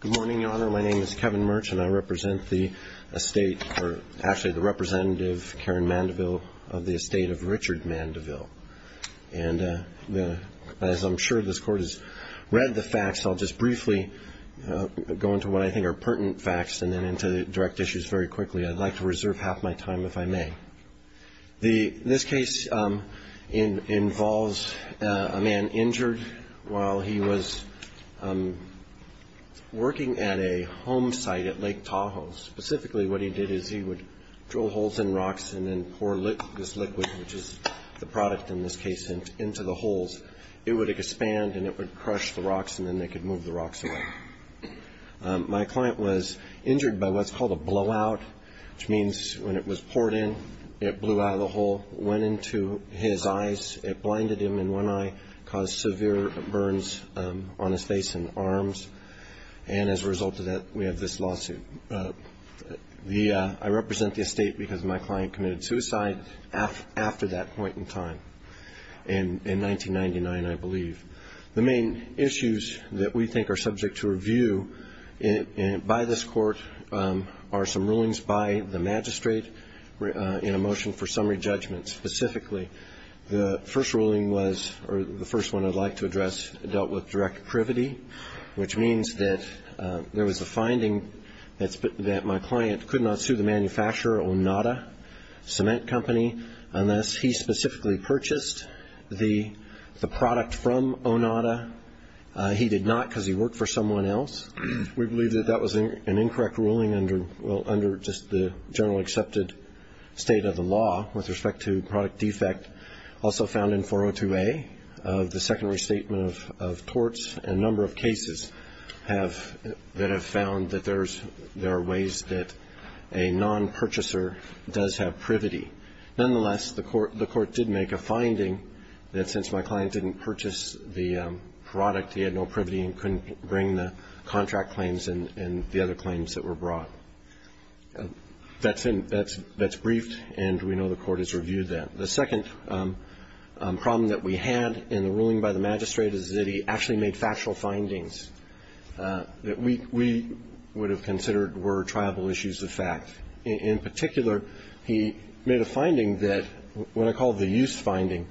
Good morning, Your Honor. My name is Kevin Merch, and I represent the estate, or actually the representative, Karen Mandeville of the estate of Richard Mandeville. And as I'm sure this Court has read the facts, I'll just briefly go into what I think are pertinent facts and then into the direct issues very quickly. I'd like to reserve half my time if I may. This case involves a man injured while he was working at a home site at Lake Tahoe. Specifically, what he did is he would drill holes in rocks and then pour this liquid, which is the product in this case, into the holes. It would expand, and it would crush the rocks, and then they could move the rocks away. My client was injured by what's called a blowout, which means when it was poured in, it blew out of the hole, went into his eyes, it blinded him in one eye, caused severe burns on his face and arms. And as a result of that, we have this lawsuit. I represent the estate because my client committed suicide after that point in time, in 1999, I believe. The main issues that we think are subject to review by this Court are some rulings by the magistrate in a motion for summary judgment. Specifically, the first ruling was, or the first one I'd like to address, dealt with direct privity, which means that there was a finding that my client could not sue the manufacturer, Onada Cement Company, unless he specifically purchased the product from someone else. We believe that that was an incorrect ruling under just the generally accepted state of the law with respect to product defect. Also found in 402A, the secondary statement of torts and a number of cases that have found that there are ways that a non-purchaser does have privity. Nonetheless, the Court did make a finding that since my client didn't purchase the product, he had no privity and couldn't bring the contract claims and the other claims that were brought. That's in the brief, and we know the Court has reviewed that. The second problem that we had in the ruling by the magistrate is that he actually made factual findings that we would have considered were triable issues of fact. In particular, he made a finding that, what I call the use finding,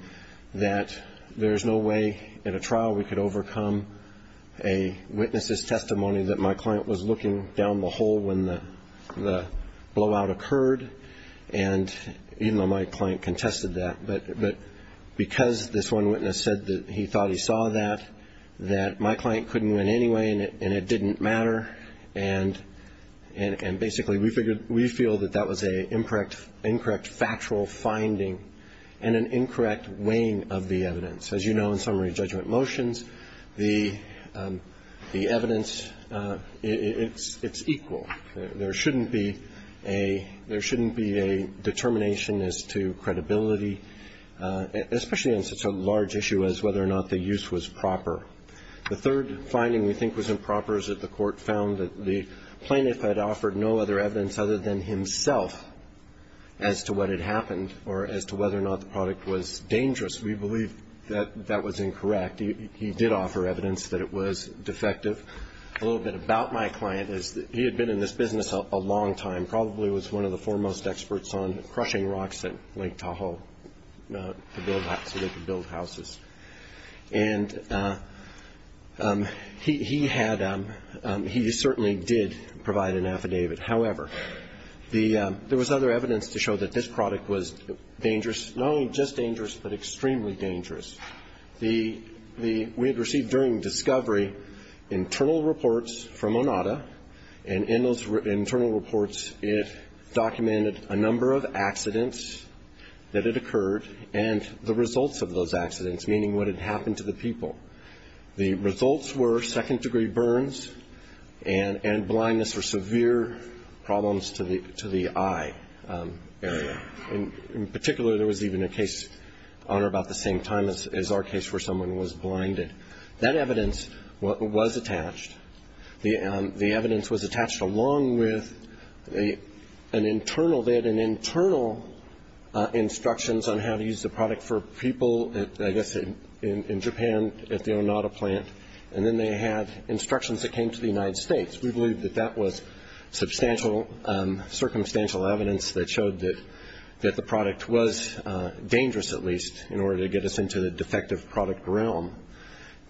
that there's no way in a trial we could overcome a witness's testimony that my client was looking down the hole when the blowout occurred, even though my client contested that. But because this one witness said that he thought he saw that, that my client couldn't win anyway and it didn't matter, and basically we feel that that was an incorrect factual finding and an incorrect weighing of the evidence. As you know, in summary judgment motions, the evidence, it's equal. There shouldn't be a determination as to credibility, especially on such a large issue as whether or not the use was proper. The third finding we think was improper is that the Court found that the plaintiff had offered no other evidence other than himself as to what had happened or as to whether or not the product was dangerous. We believe that that was incorrect. He did offer evidence that it was defective. A little bit about my client is that he had been in this business a long time, probably was one of the foremost experts on crushing rocks at Lake Tahoe to build houses. And he had, he certainly did provide an affidavit. However, the, there was other evidence to show that this product was dangerous, not only just dangerous, but extremely dangerous. The, the, we had received during discovery internal reports from Onada, and in those internal reports, it documented a number of accidents that had occurred and the results of those accidents, meaning what had happened to the people. The results were second- degree burns and, and blindness or severe problems to the, to the eye area. In, in particular, there was even a case, Honor, about the same time as, as our case where someone was blinded. That evidence was attached. The, the evidence was attached along with an internal, they had an internal instructions on how to use the product for people at, I guess, in, in Japan at the Onada plant. And then they had instructions that came to the United States. We believe that that was substantial, circumstantial evidence that showed that, that the product was dangerous, at least, in order to get us into the defective product realm.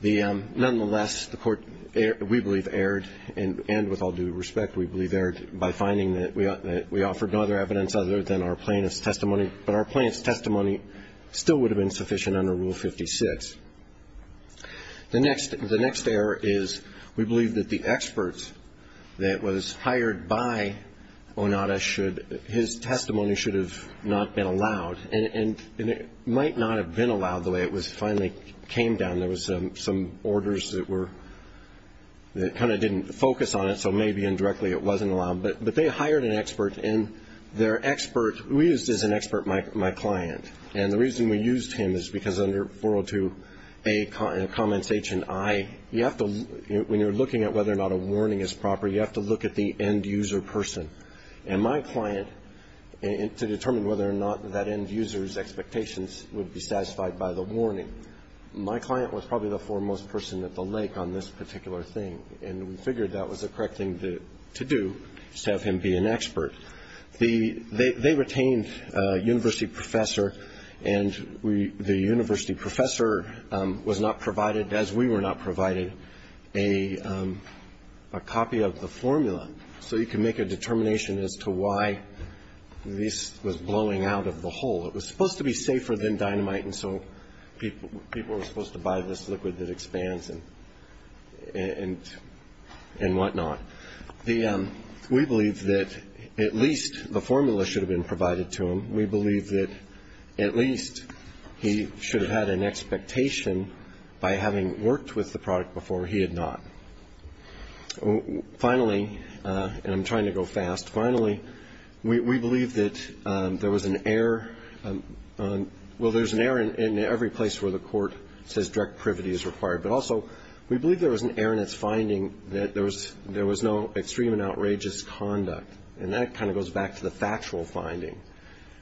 The, nonetheless, the court, we believe, erred, and, and with all due respect, we believe that we erred by finding that we, that we offered no other evidence other than our plaintiff's testimony. But our plaintiff's testimony still would have been sufficient under Rule 56. The next, the next error is we believe that the expert that was hired by Onada should, his testimony should have not been allowed. And, and, and it might not have been allowed the way it was finally came down. There was some, some orders that were, that kind of didn't focus on it, so maybe, indirectly, it wasn't allowed. But, but they hired an expert, and their expert, we used as an expert my, my client. And the reason we used him is because under 402 A, comments H and I, you have to, when you're looking at whether or not a warning is proper, you have to look at the end user person. And my client, to determine whether or not that end user's expectations would be satisfied by the warning, my client was probably the foremost person at the lake on this particular thing. And we figured that was the correct thing to, to do, is to have him be an expert. The, they, they retained a university professor, and we, the university professor was not provided, as we were not provided, a, a copy of the formula, so he could make a determination as to why this was blowing out of the hole. It was supposed to be safer than dynamite, and so people, people were supposed to buy this liquid that expands and, and, and whatnot. The, we believe that at least the formula should have been provided to him. We believe that at least he should have had an expectation by having worked with the product before he had not. Finally, and I'm trying to go fast, finally, we, we believe that there was an error on, well, there's an error in, in every place where the court says direct privity is required. But also, we believe there was an error in its finding that there was, there was no extreme and outrageous conduct. And that kind of goes back to the factual finding.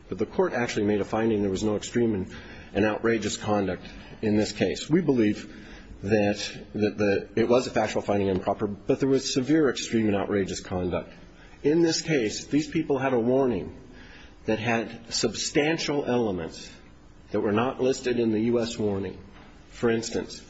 But the court actually made a finding there was no extreme and, and outrageous conduct in this case. We believe that, that the, it was a factual finding improper, but there was severe extreme and outrageous conduct. In this case, these people had a warning that had substantial elements that were not listed in the U.S. warning. For instance,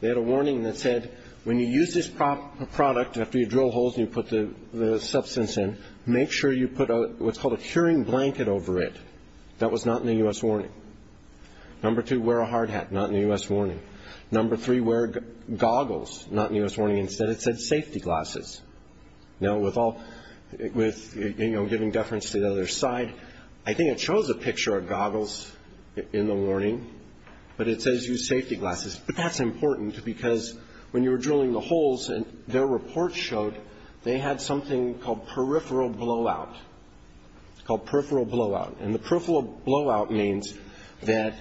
they had a warning that said, when you use this product after you drill holes and you put the, the substance in, make sure you put a, what's called a curing blanket over it. That was not in the U.S. warning. Number two, wear a hard hat. Not in the U.S. warning. Number three, wear goggles. Not in the U.S. warning. Instead it said safety glasses. Now with all, with, you know, giving deference to the other side, I think it shows a picture of goggles in the warning, but it says use safety glasses. But that's important because when you were drilling the holes and their report showed they had something called peripheral blowout. It's called peripheral blowout. And the peripheral blowout means that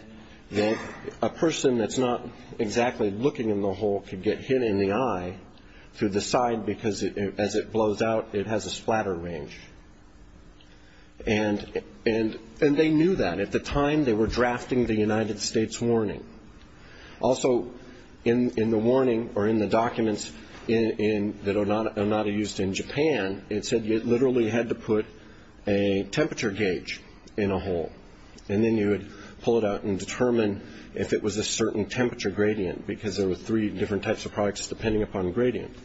a person that's not exactly looking in the hole could get hit in the eye through the side because as it blows out, it has a And, and, and they knew that. At the time they were drafting the United States warning. Also in, in the warning or in the documents in, in, that Onada, Onada used in Japan, it said you literally had to put a temperature gauge in a hole. And then you would pull it out and determine if it was a certain temperature gradient because there were three different types of products depending upon gradient.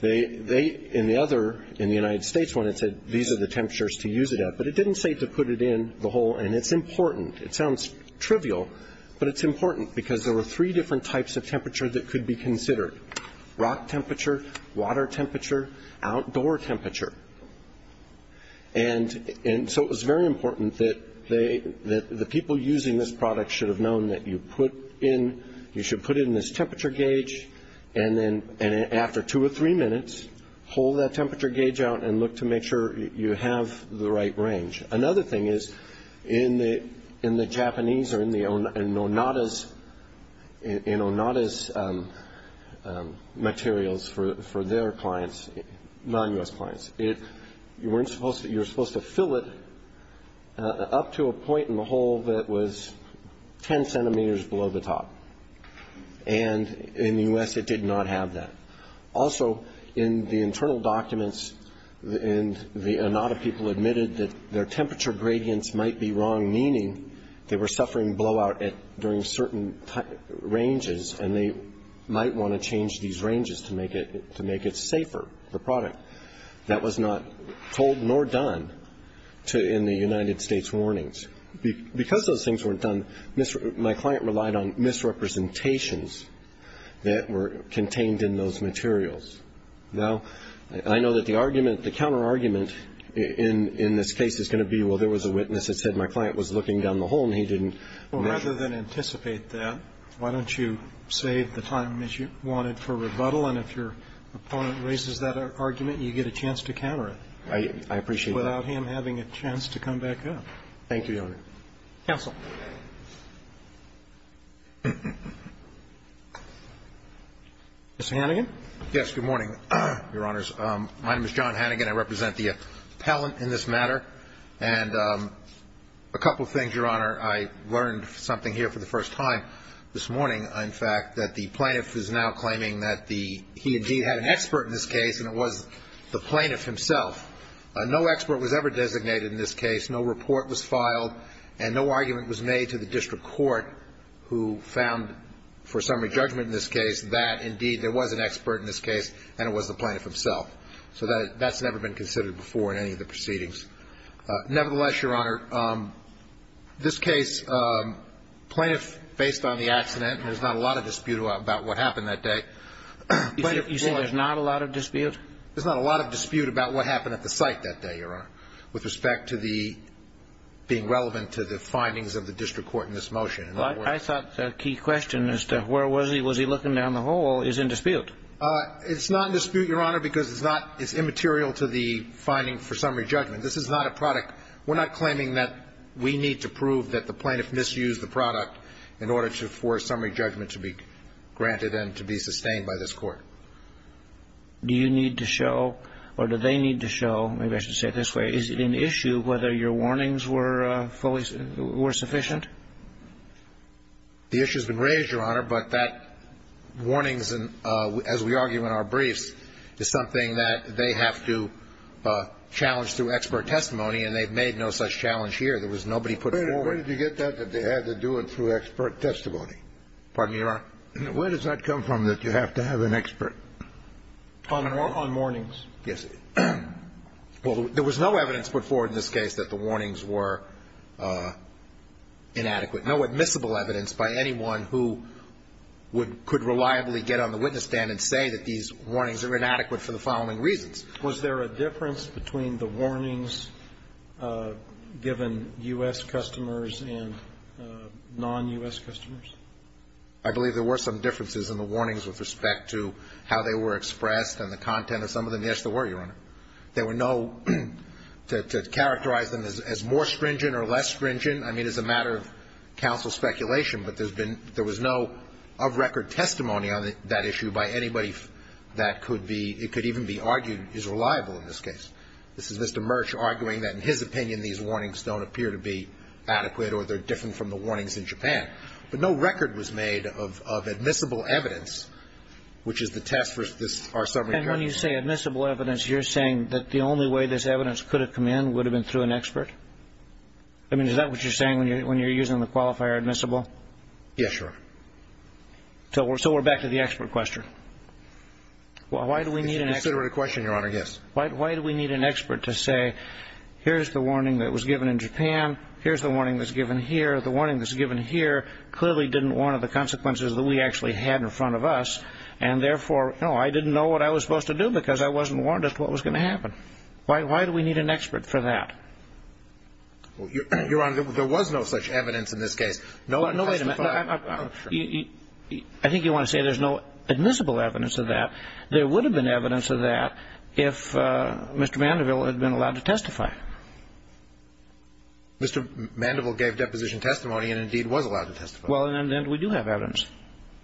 They, they, in the other, in the United States one it said these are the temperatures to use it at, but it didn't say to put it in the hole. And it's important. It sounds trivial, but it's important because there were three different types of temperature that could be considered. Rock temperature, water temperature, outdoor temperature. And, and so it was very important that they, that the people using this product should have known that you put in, you should put it in this temperature gauge and then, and after two or three minutes, pull that temperature gauge out and look to make sure you have the right range. Another thing is in the, in the Japanese or in the Onada's, in Onada's materials for, for their clients, non-U.S. clients, it, you weren't supposed to, you were supposed to fill it up to a point in the hole that was ten centimeters below the top. And in the U.S. it did not have that. Also, in the internal documents and the Onada people admitted that their temperature gradients might be wrong, meaning they were suffering blowout at, during certain ranges and they might want to change these ranges to make it, to make it safer, the product. That was not told nor done to, in the United States warnings. Because those things weren't done, my client relied on misrepresentations that were contained in those materials. Now, I know that the argument, the counter-argument in, in this case is going to be, well, there was a witness that said my client was looking down the hole and he didn't. Well, rather than anticipate that, why don't you save the time that you wanted for rebuttal and if your opponent raises that argument, you get a chance to counter it. I, I appreciate that. Without him having a chance to come back up. Thank you, Your Honor. Counsel. Mr. Hannigan. Yes. Good morning, Your Honors. My name is John Hannigan. I represent the appellant in this matter. And a couple of things, Your Honor. I learned something here for the first time this morning, in fact, that the plaintiff is now claiming that the, he indeed had an expert in this case and it was the plaintiff himself. No expert was ever designated in this case. No report was filed. And no argument was made to the district court who found, for summary judgment in this case, that indeed there was an expert in this case and it was the plaintiff himself. So that, that's never been considered before in any of the proceedings. Nevertheless, Your Honor, this case, plaintiff, based on the accident, there's not a lot of dispute about what happened that day. You say there's not a lot of dispute? There's not a lot of dispute about what happened at the site that day, Your Honor, with respect to the, being relevant to the findings of the district court in this motion. In other words. I thought the key question as to where was he, was he looking down the hall, is in dispute. It's not in dispute, Your Honor, because it's not, it's immaterial to the finding for summary judgment. This is not a product. We're not claiming that we need to prove that the plaintiff misused the product in order to force summary judgment to be granted and to be sustained by this Court. Do you need to show, or do they need to show, maybe I should say it this way, is it an issue whether your warnings were fully, were sufficient? The issue has been raised, Your Honor, but that warnings, as we argue in our briefs, is something that they have to challenge through expert testimony, and they've made no such challenge here. There was nobody put forward. Wait a minute. Where did you get that, that they had to do it through expert testimony? Pardon me, Your Honor? Where does that come from, that you have to have an expert? On warnings. Yes. Well, there was no evidence put forward in this case that the warnings were inadequate, no admissible evidence by anyone who would, could reliably get on the witness stand and say that these warnings are inadequate for the following reasons. Was there a difference between the warnings given U.S. customers and non-U.S. customers? I believe there were some differences in the warnings with respect to how they were expressed and the content of some of them. Yes, there were, Your Honor. There were no, to characterize them as more stringent or less stringent, I mean, it's a matter of counsel speculation, but there's been, there was no of record testimony on that issue by anybody that could be, it could even be argued is reliable in this case. This is Mr. Murch arguing that in his opinion these warnings don't appear to be adequate or they're different from the warnings in Japan, but no record was made of admissible evidence, which is the test for this, our summary judgment. And when you say admissible evidence, you're saying that the only way this evidence could have come in would have been through an expert? I mean, is that what you're saying when you're using the qualifier admissible? Yes, Your Honor. So we're back to the expert question. Why do we need an expert? It's a considerate question, Your Honor, yes. Why do we need an expert to say here's the warning that was given in Japan, here's the warning that's given here, the warning that's given here clearly didn't warrant the consequences that we actually had in front of us, and therefore, no, I didn't know what I was supposed to do because I wasn't warned as to what was going to happen. Why do we need an expert for that? Your Honor, there was no such evidence in this case. No, wait a minute. I think you want to say there's no admissible evidence of that. There would have been evidence of that if Mr. Mandeville had been allowed to testify. Mr. Mandeville gave deposition testimony and, indeed, was allowed to testify. Well, and then we do have evidence.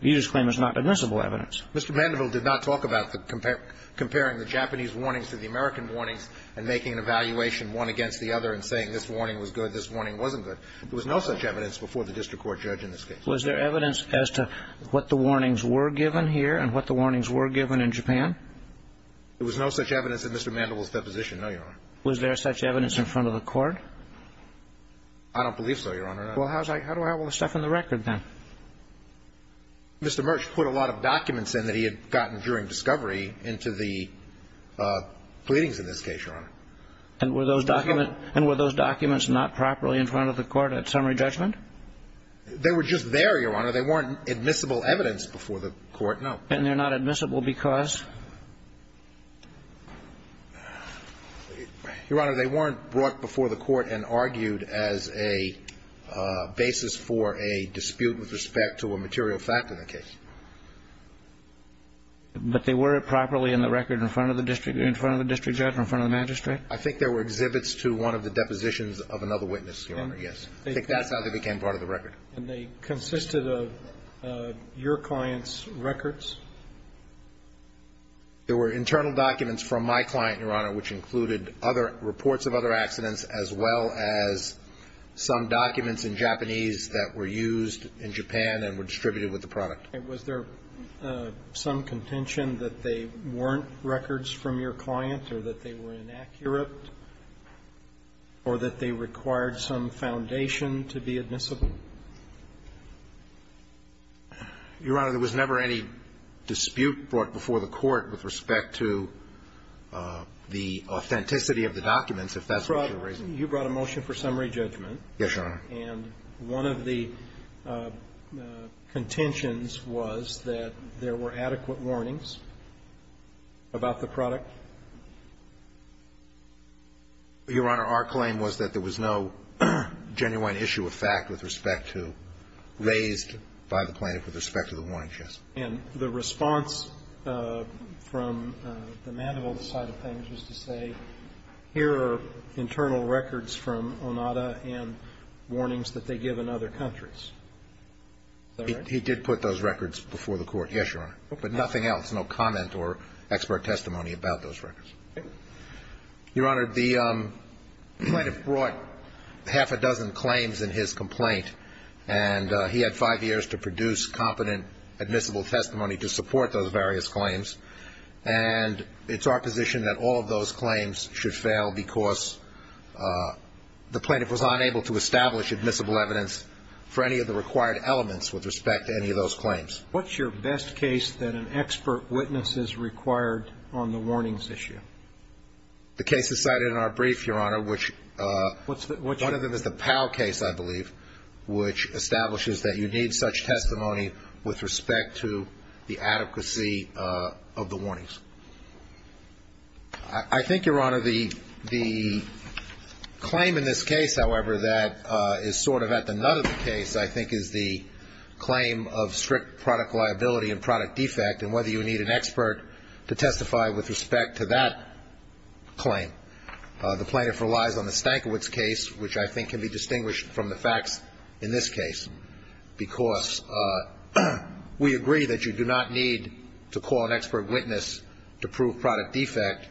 You just claim it's not admissible evidence. Mr. Mandeville did not talk about the comparing the Japanese warnings to the American warnings and making an evaluation one against the other and saying this warning was good, this warning wasn't good. There was no such evidence before the district court judge in this case. Was there evidence as to what the warnings were given here and what the warnings were given in Japan? Was there such evidence in front of the court? I don't believe so, Your Honor. Well, how do I have all this stuff in the record then? Mr. Murch put a lot of documents in that he had gotten during discovery into the pleadings in this case, Your Honor. And were those documents not properly in front of the court at summary judgment? They were just there, Your Honor. They weren't admissible evidence before the court, no. And they're not admissible because? Your Honor, they weren't brought before the court and argued as a basis for a dispute with respect to a material fact in the case. But they were properly in the record in front of the district judge, in front of the magistrate? I think there were exhibits to one of the depositions of another witness, Your Honor, yes. I think that's how they became part of the record. And they consisted of your client's records? There were internal documents from my client, Your Honor, which included other reports of other accidents as well as some documents in Japanese that were used in Japan and were distributed with the product. And was there some contention that they weren't records from your client or that they were inaccurate or that they required some foundation to be admissible? Your Honor, there was never any dispute brought before the court with respect to the authenticity of the documents, if that's what you're raising. You brought a motion for summary judgment. Yes, Your Honor. And one of the contentions was that there were adequate warnings about the product? Your Honor, our claim was that there was no genuine issue of fact with respect to raised by the plaintiff with respect to the warnings, yes. And the response from the Mandeville side of things was to say, here are internal records from Onada and warnings that they give in other countries. Is that right? He did put those records before the court, yes, Your Honor. But nothing else, no comment or expert testimony about those records. Your Honor, the plaintiff brought half a dozen claims in his complaint, and he had five years to produce competent admissible testimony to support those various claims. And it's our position that all of those claims should fail because the plaintiff was unable to establish admissible evidence for any of the required elements with respect to any of those claims. What's your best case that an expert witness is required on the warnings issue? The case is cited in our brief, Your Honor, which one of them is the Powell case, I believe, which establishes that you need such testimony with respect to the adequacy of the warnings. I think, Your Honor, the claim in this case, however, that is sort of at the nut of the case, I think, is the claim of strict product liability and product defect and whether you need an expert to testify with respect to that claim. The plaintiff relies on the Stankiewicz case, which I think can be distinguished from the facts in this case. Because we agree that you do not need to call an expert witness to prove product defect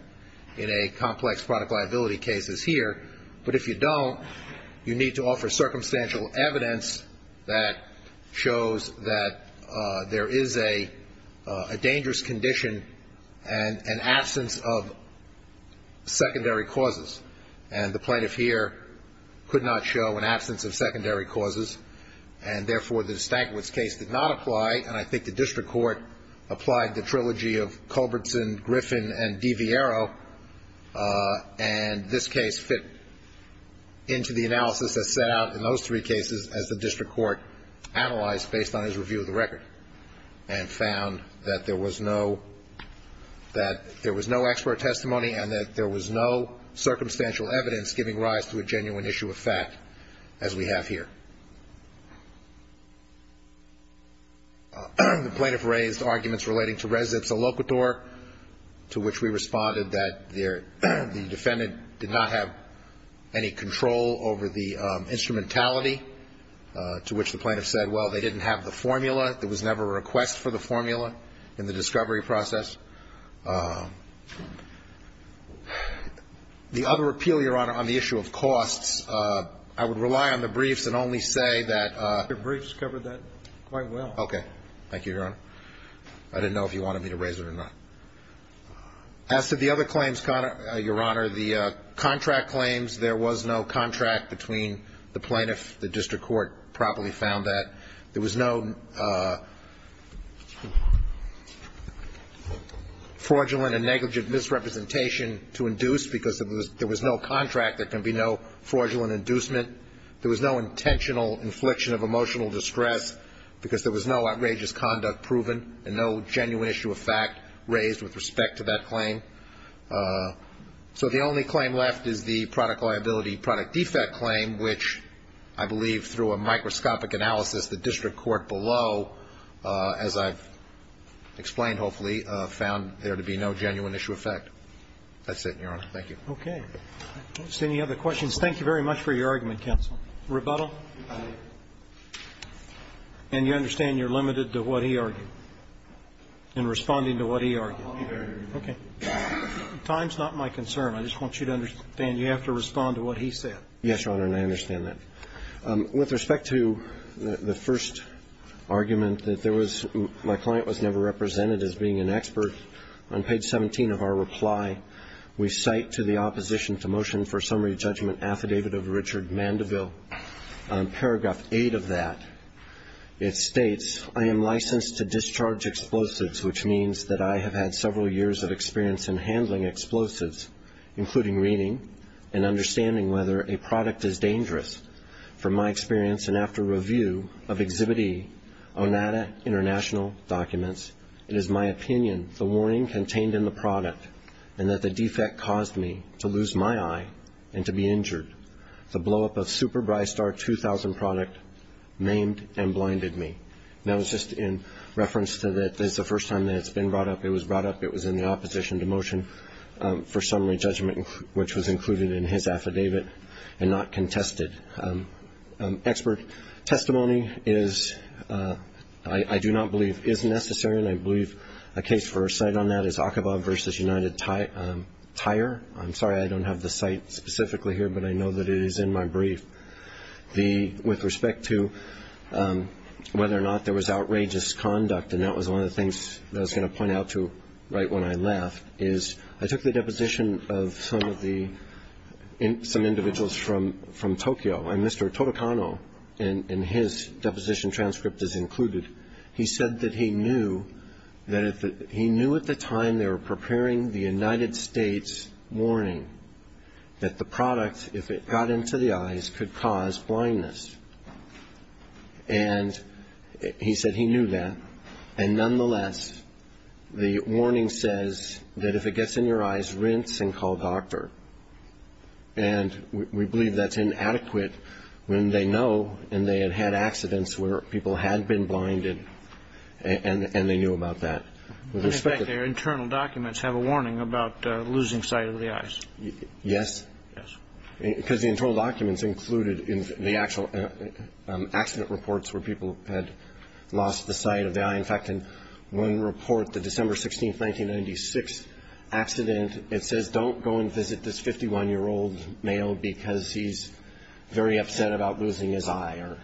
in a complex product liability case as here. But if you don't, you need to offer circumstantial evidence that shows that there is a dangerous condition and an absence of secondary causes. And the plaintiff here could not show an absence of secondary causes, and therefore, the Stankiewicz case did not apply. And I think the district court applied the trilogy of Culbertson, Griffin, and into the analysis that set out in those three cases as the district court analyzed based on his review of the record and found that there was no, that there was no expert testimony and that there was no circumstantial evidence giving rise to a genuine issue of fact as we have here. The plaintiff raised arguments relating to res ipsa locator, to which we responded that the defendant did not have any control over the instrumentality, to which the plaintiff said, well, they didn't have the formula. There was never a request for the formula in the discovery process. The other appeal, Your Honor, on the issue of costs, I would rely on the briefs and only say that the briefs covered that quite well. Okay. Thank you, Your Honor. I didn't know if you wanted me to raise it or not. As to the other claims, Your Honor, the contract claims, there was no contract between the plaintiff. The district court probably found that. There was no fraudulent and negligent misrepresentation to induce because there was no contract, there can be no fraudulent inducement. There was no intentional infliction of emotional distress because there was no outrageous conduct proven and no genuine issue of fact raised with respect to that claim. So the only claim left is the product liability, product defect claim, which I believe through a microscopic analysis, the district court below, as I've explained hopefully, found there to be no genuine issue of fact. That's it, Your Honor. Thank you. Okay. I don't see any other questions. Thank you very much for your argument, counsel. Rebuttal? And you understand you're limited to what he argued, in responding to what he argued. Okay. Time's not my concern. I just want you to understand you have to respond to what he said. Yes, Your Honor, and I understand that. With respect to the first argument that there was my client was never represented as being an expert, on page 17 of our reply, we cite to the opposition to motion for summary judgment affidavit of Richard Mandeville. On paragraph 8 of that, it states, I am licensed to discharge explosives, which means that I have had several years of experience in handling explosives, including reading and understanding whether a product is dangerous. From my experience and after review of Exhibit E, Onata International documents, it is my opinion the warning contained in the product and that the defect caused me to lose my eye and to be injured. The blowup of Super Brystar 2000 product maimed and blinded me. That was just in reference to that this is the first time that it's been brought up. It was brought up. It was in the opposition to motion for summary judgment, which was included in his affidavit and not contested. Expert testimony is, I do not believe, is necessary. And I believe a case for a cite on that is Aqaba versus United Tire. I'm sorry, I don't have the site specifically here, but I know that it is in my brief. With respect to whether or not there was outrageous conduct, and that was one of the things that I was going to point out to right when I left, is I took the deposition of some individuals from Tokyo. And Mr. Totokano, in his deposition transcript, is included. He said that he knew at the time they were preparing the United States warning that the product, if it got into the eyes, could cause blindness. And he said he knew that. And nonetheless, the warning says that if it gets in your eyes, rinse and call doctor. And we believe that's inadequate when they know, and they had had accidents where people had been blinded, and they knew about that. With respect to their internal documents, have a warning about losing sight of the eyes. Yes. Yes. Because the internal documents included in the actual accident reports where people had lost the sight of the eye. In fact, in one report, the December 16th, 1996 accident, it says don't go and visit this 51-year-old male because he's very upset about losing his eye, or,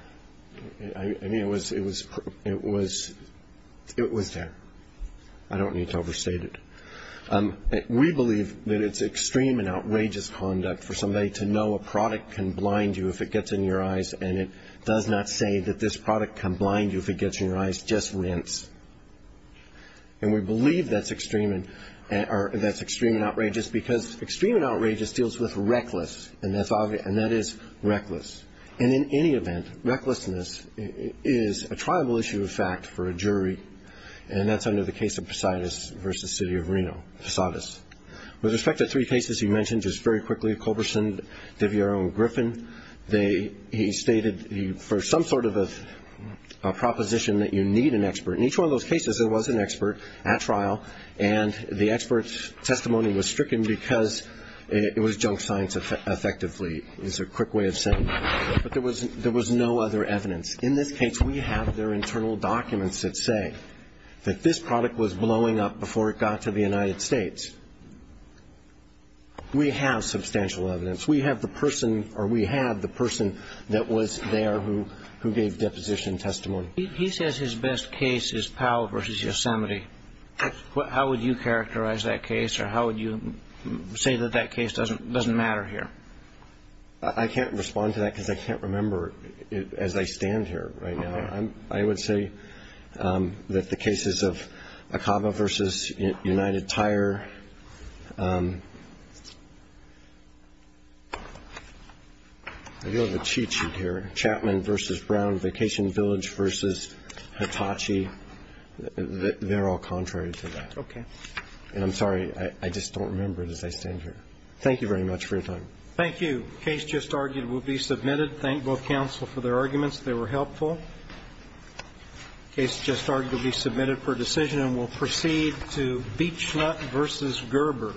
I mean, it was there. I don't need to overstate it. We believe that it's extreme and outrageous conduct for somebody to know a product can blind you if it gets in your eyes. And it does not say that this product can blind you if it gets in your eyes, just rinse. And we believe that's extreme and outrageous because extreme and outrageous is reckless, and in any event, recklessness is a tribal issue of fact for a jury, and that's under the case of Posadis versus City of Reno, Posadis. With respect to three cases you mentioned just very quickly, Culberson, DeViero, and Griffin, he stated for some sort of a proposition that you need an expert. In each one of those cases, there was an expert at trial, and the expert's testimony was stricken because it was junk science effectively. It's a quick way of saying, but there was no other evidence. In this case, we have their internal documents that say that this product was blowing up before it got to the United States. We have substantial evidence. We have the person, or we had the person that was there who gave deposition testimony. He says his best case is Powell versus Yosemite. How would you characterize that case, or how would you say that that case doesn't matter here? I can't respond to that because I can't remember it as I stand here right now. I would say that the cases of Acaba versus United Tire. I do have a cheat sheet here. Chapman versus Brown, Vacation Village versus Hitachi, they're all contrary to that. Okay. And I'm sorry, I just don't remember it as I stand here. Thank you very much for your time. Thank you. Case just argued will be submitted. Thank both counsel for their arguments. They were helpful. Case just argued will be submitted for decision, and we'll proceed to Beachlet versus Gerber.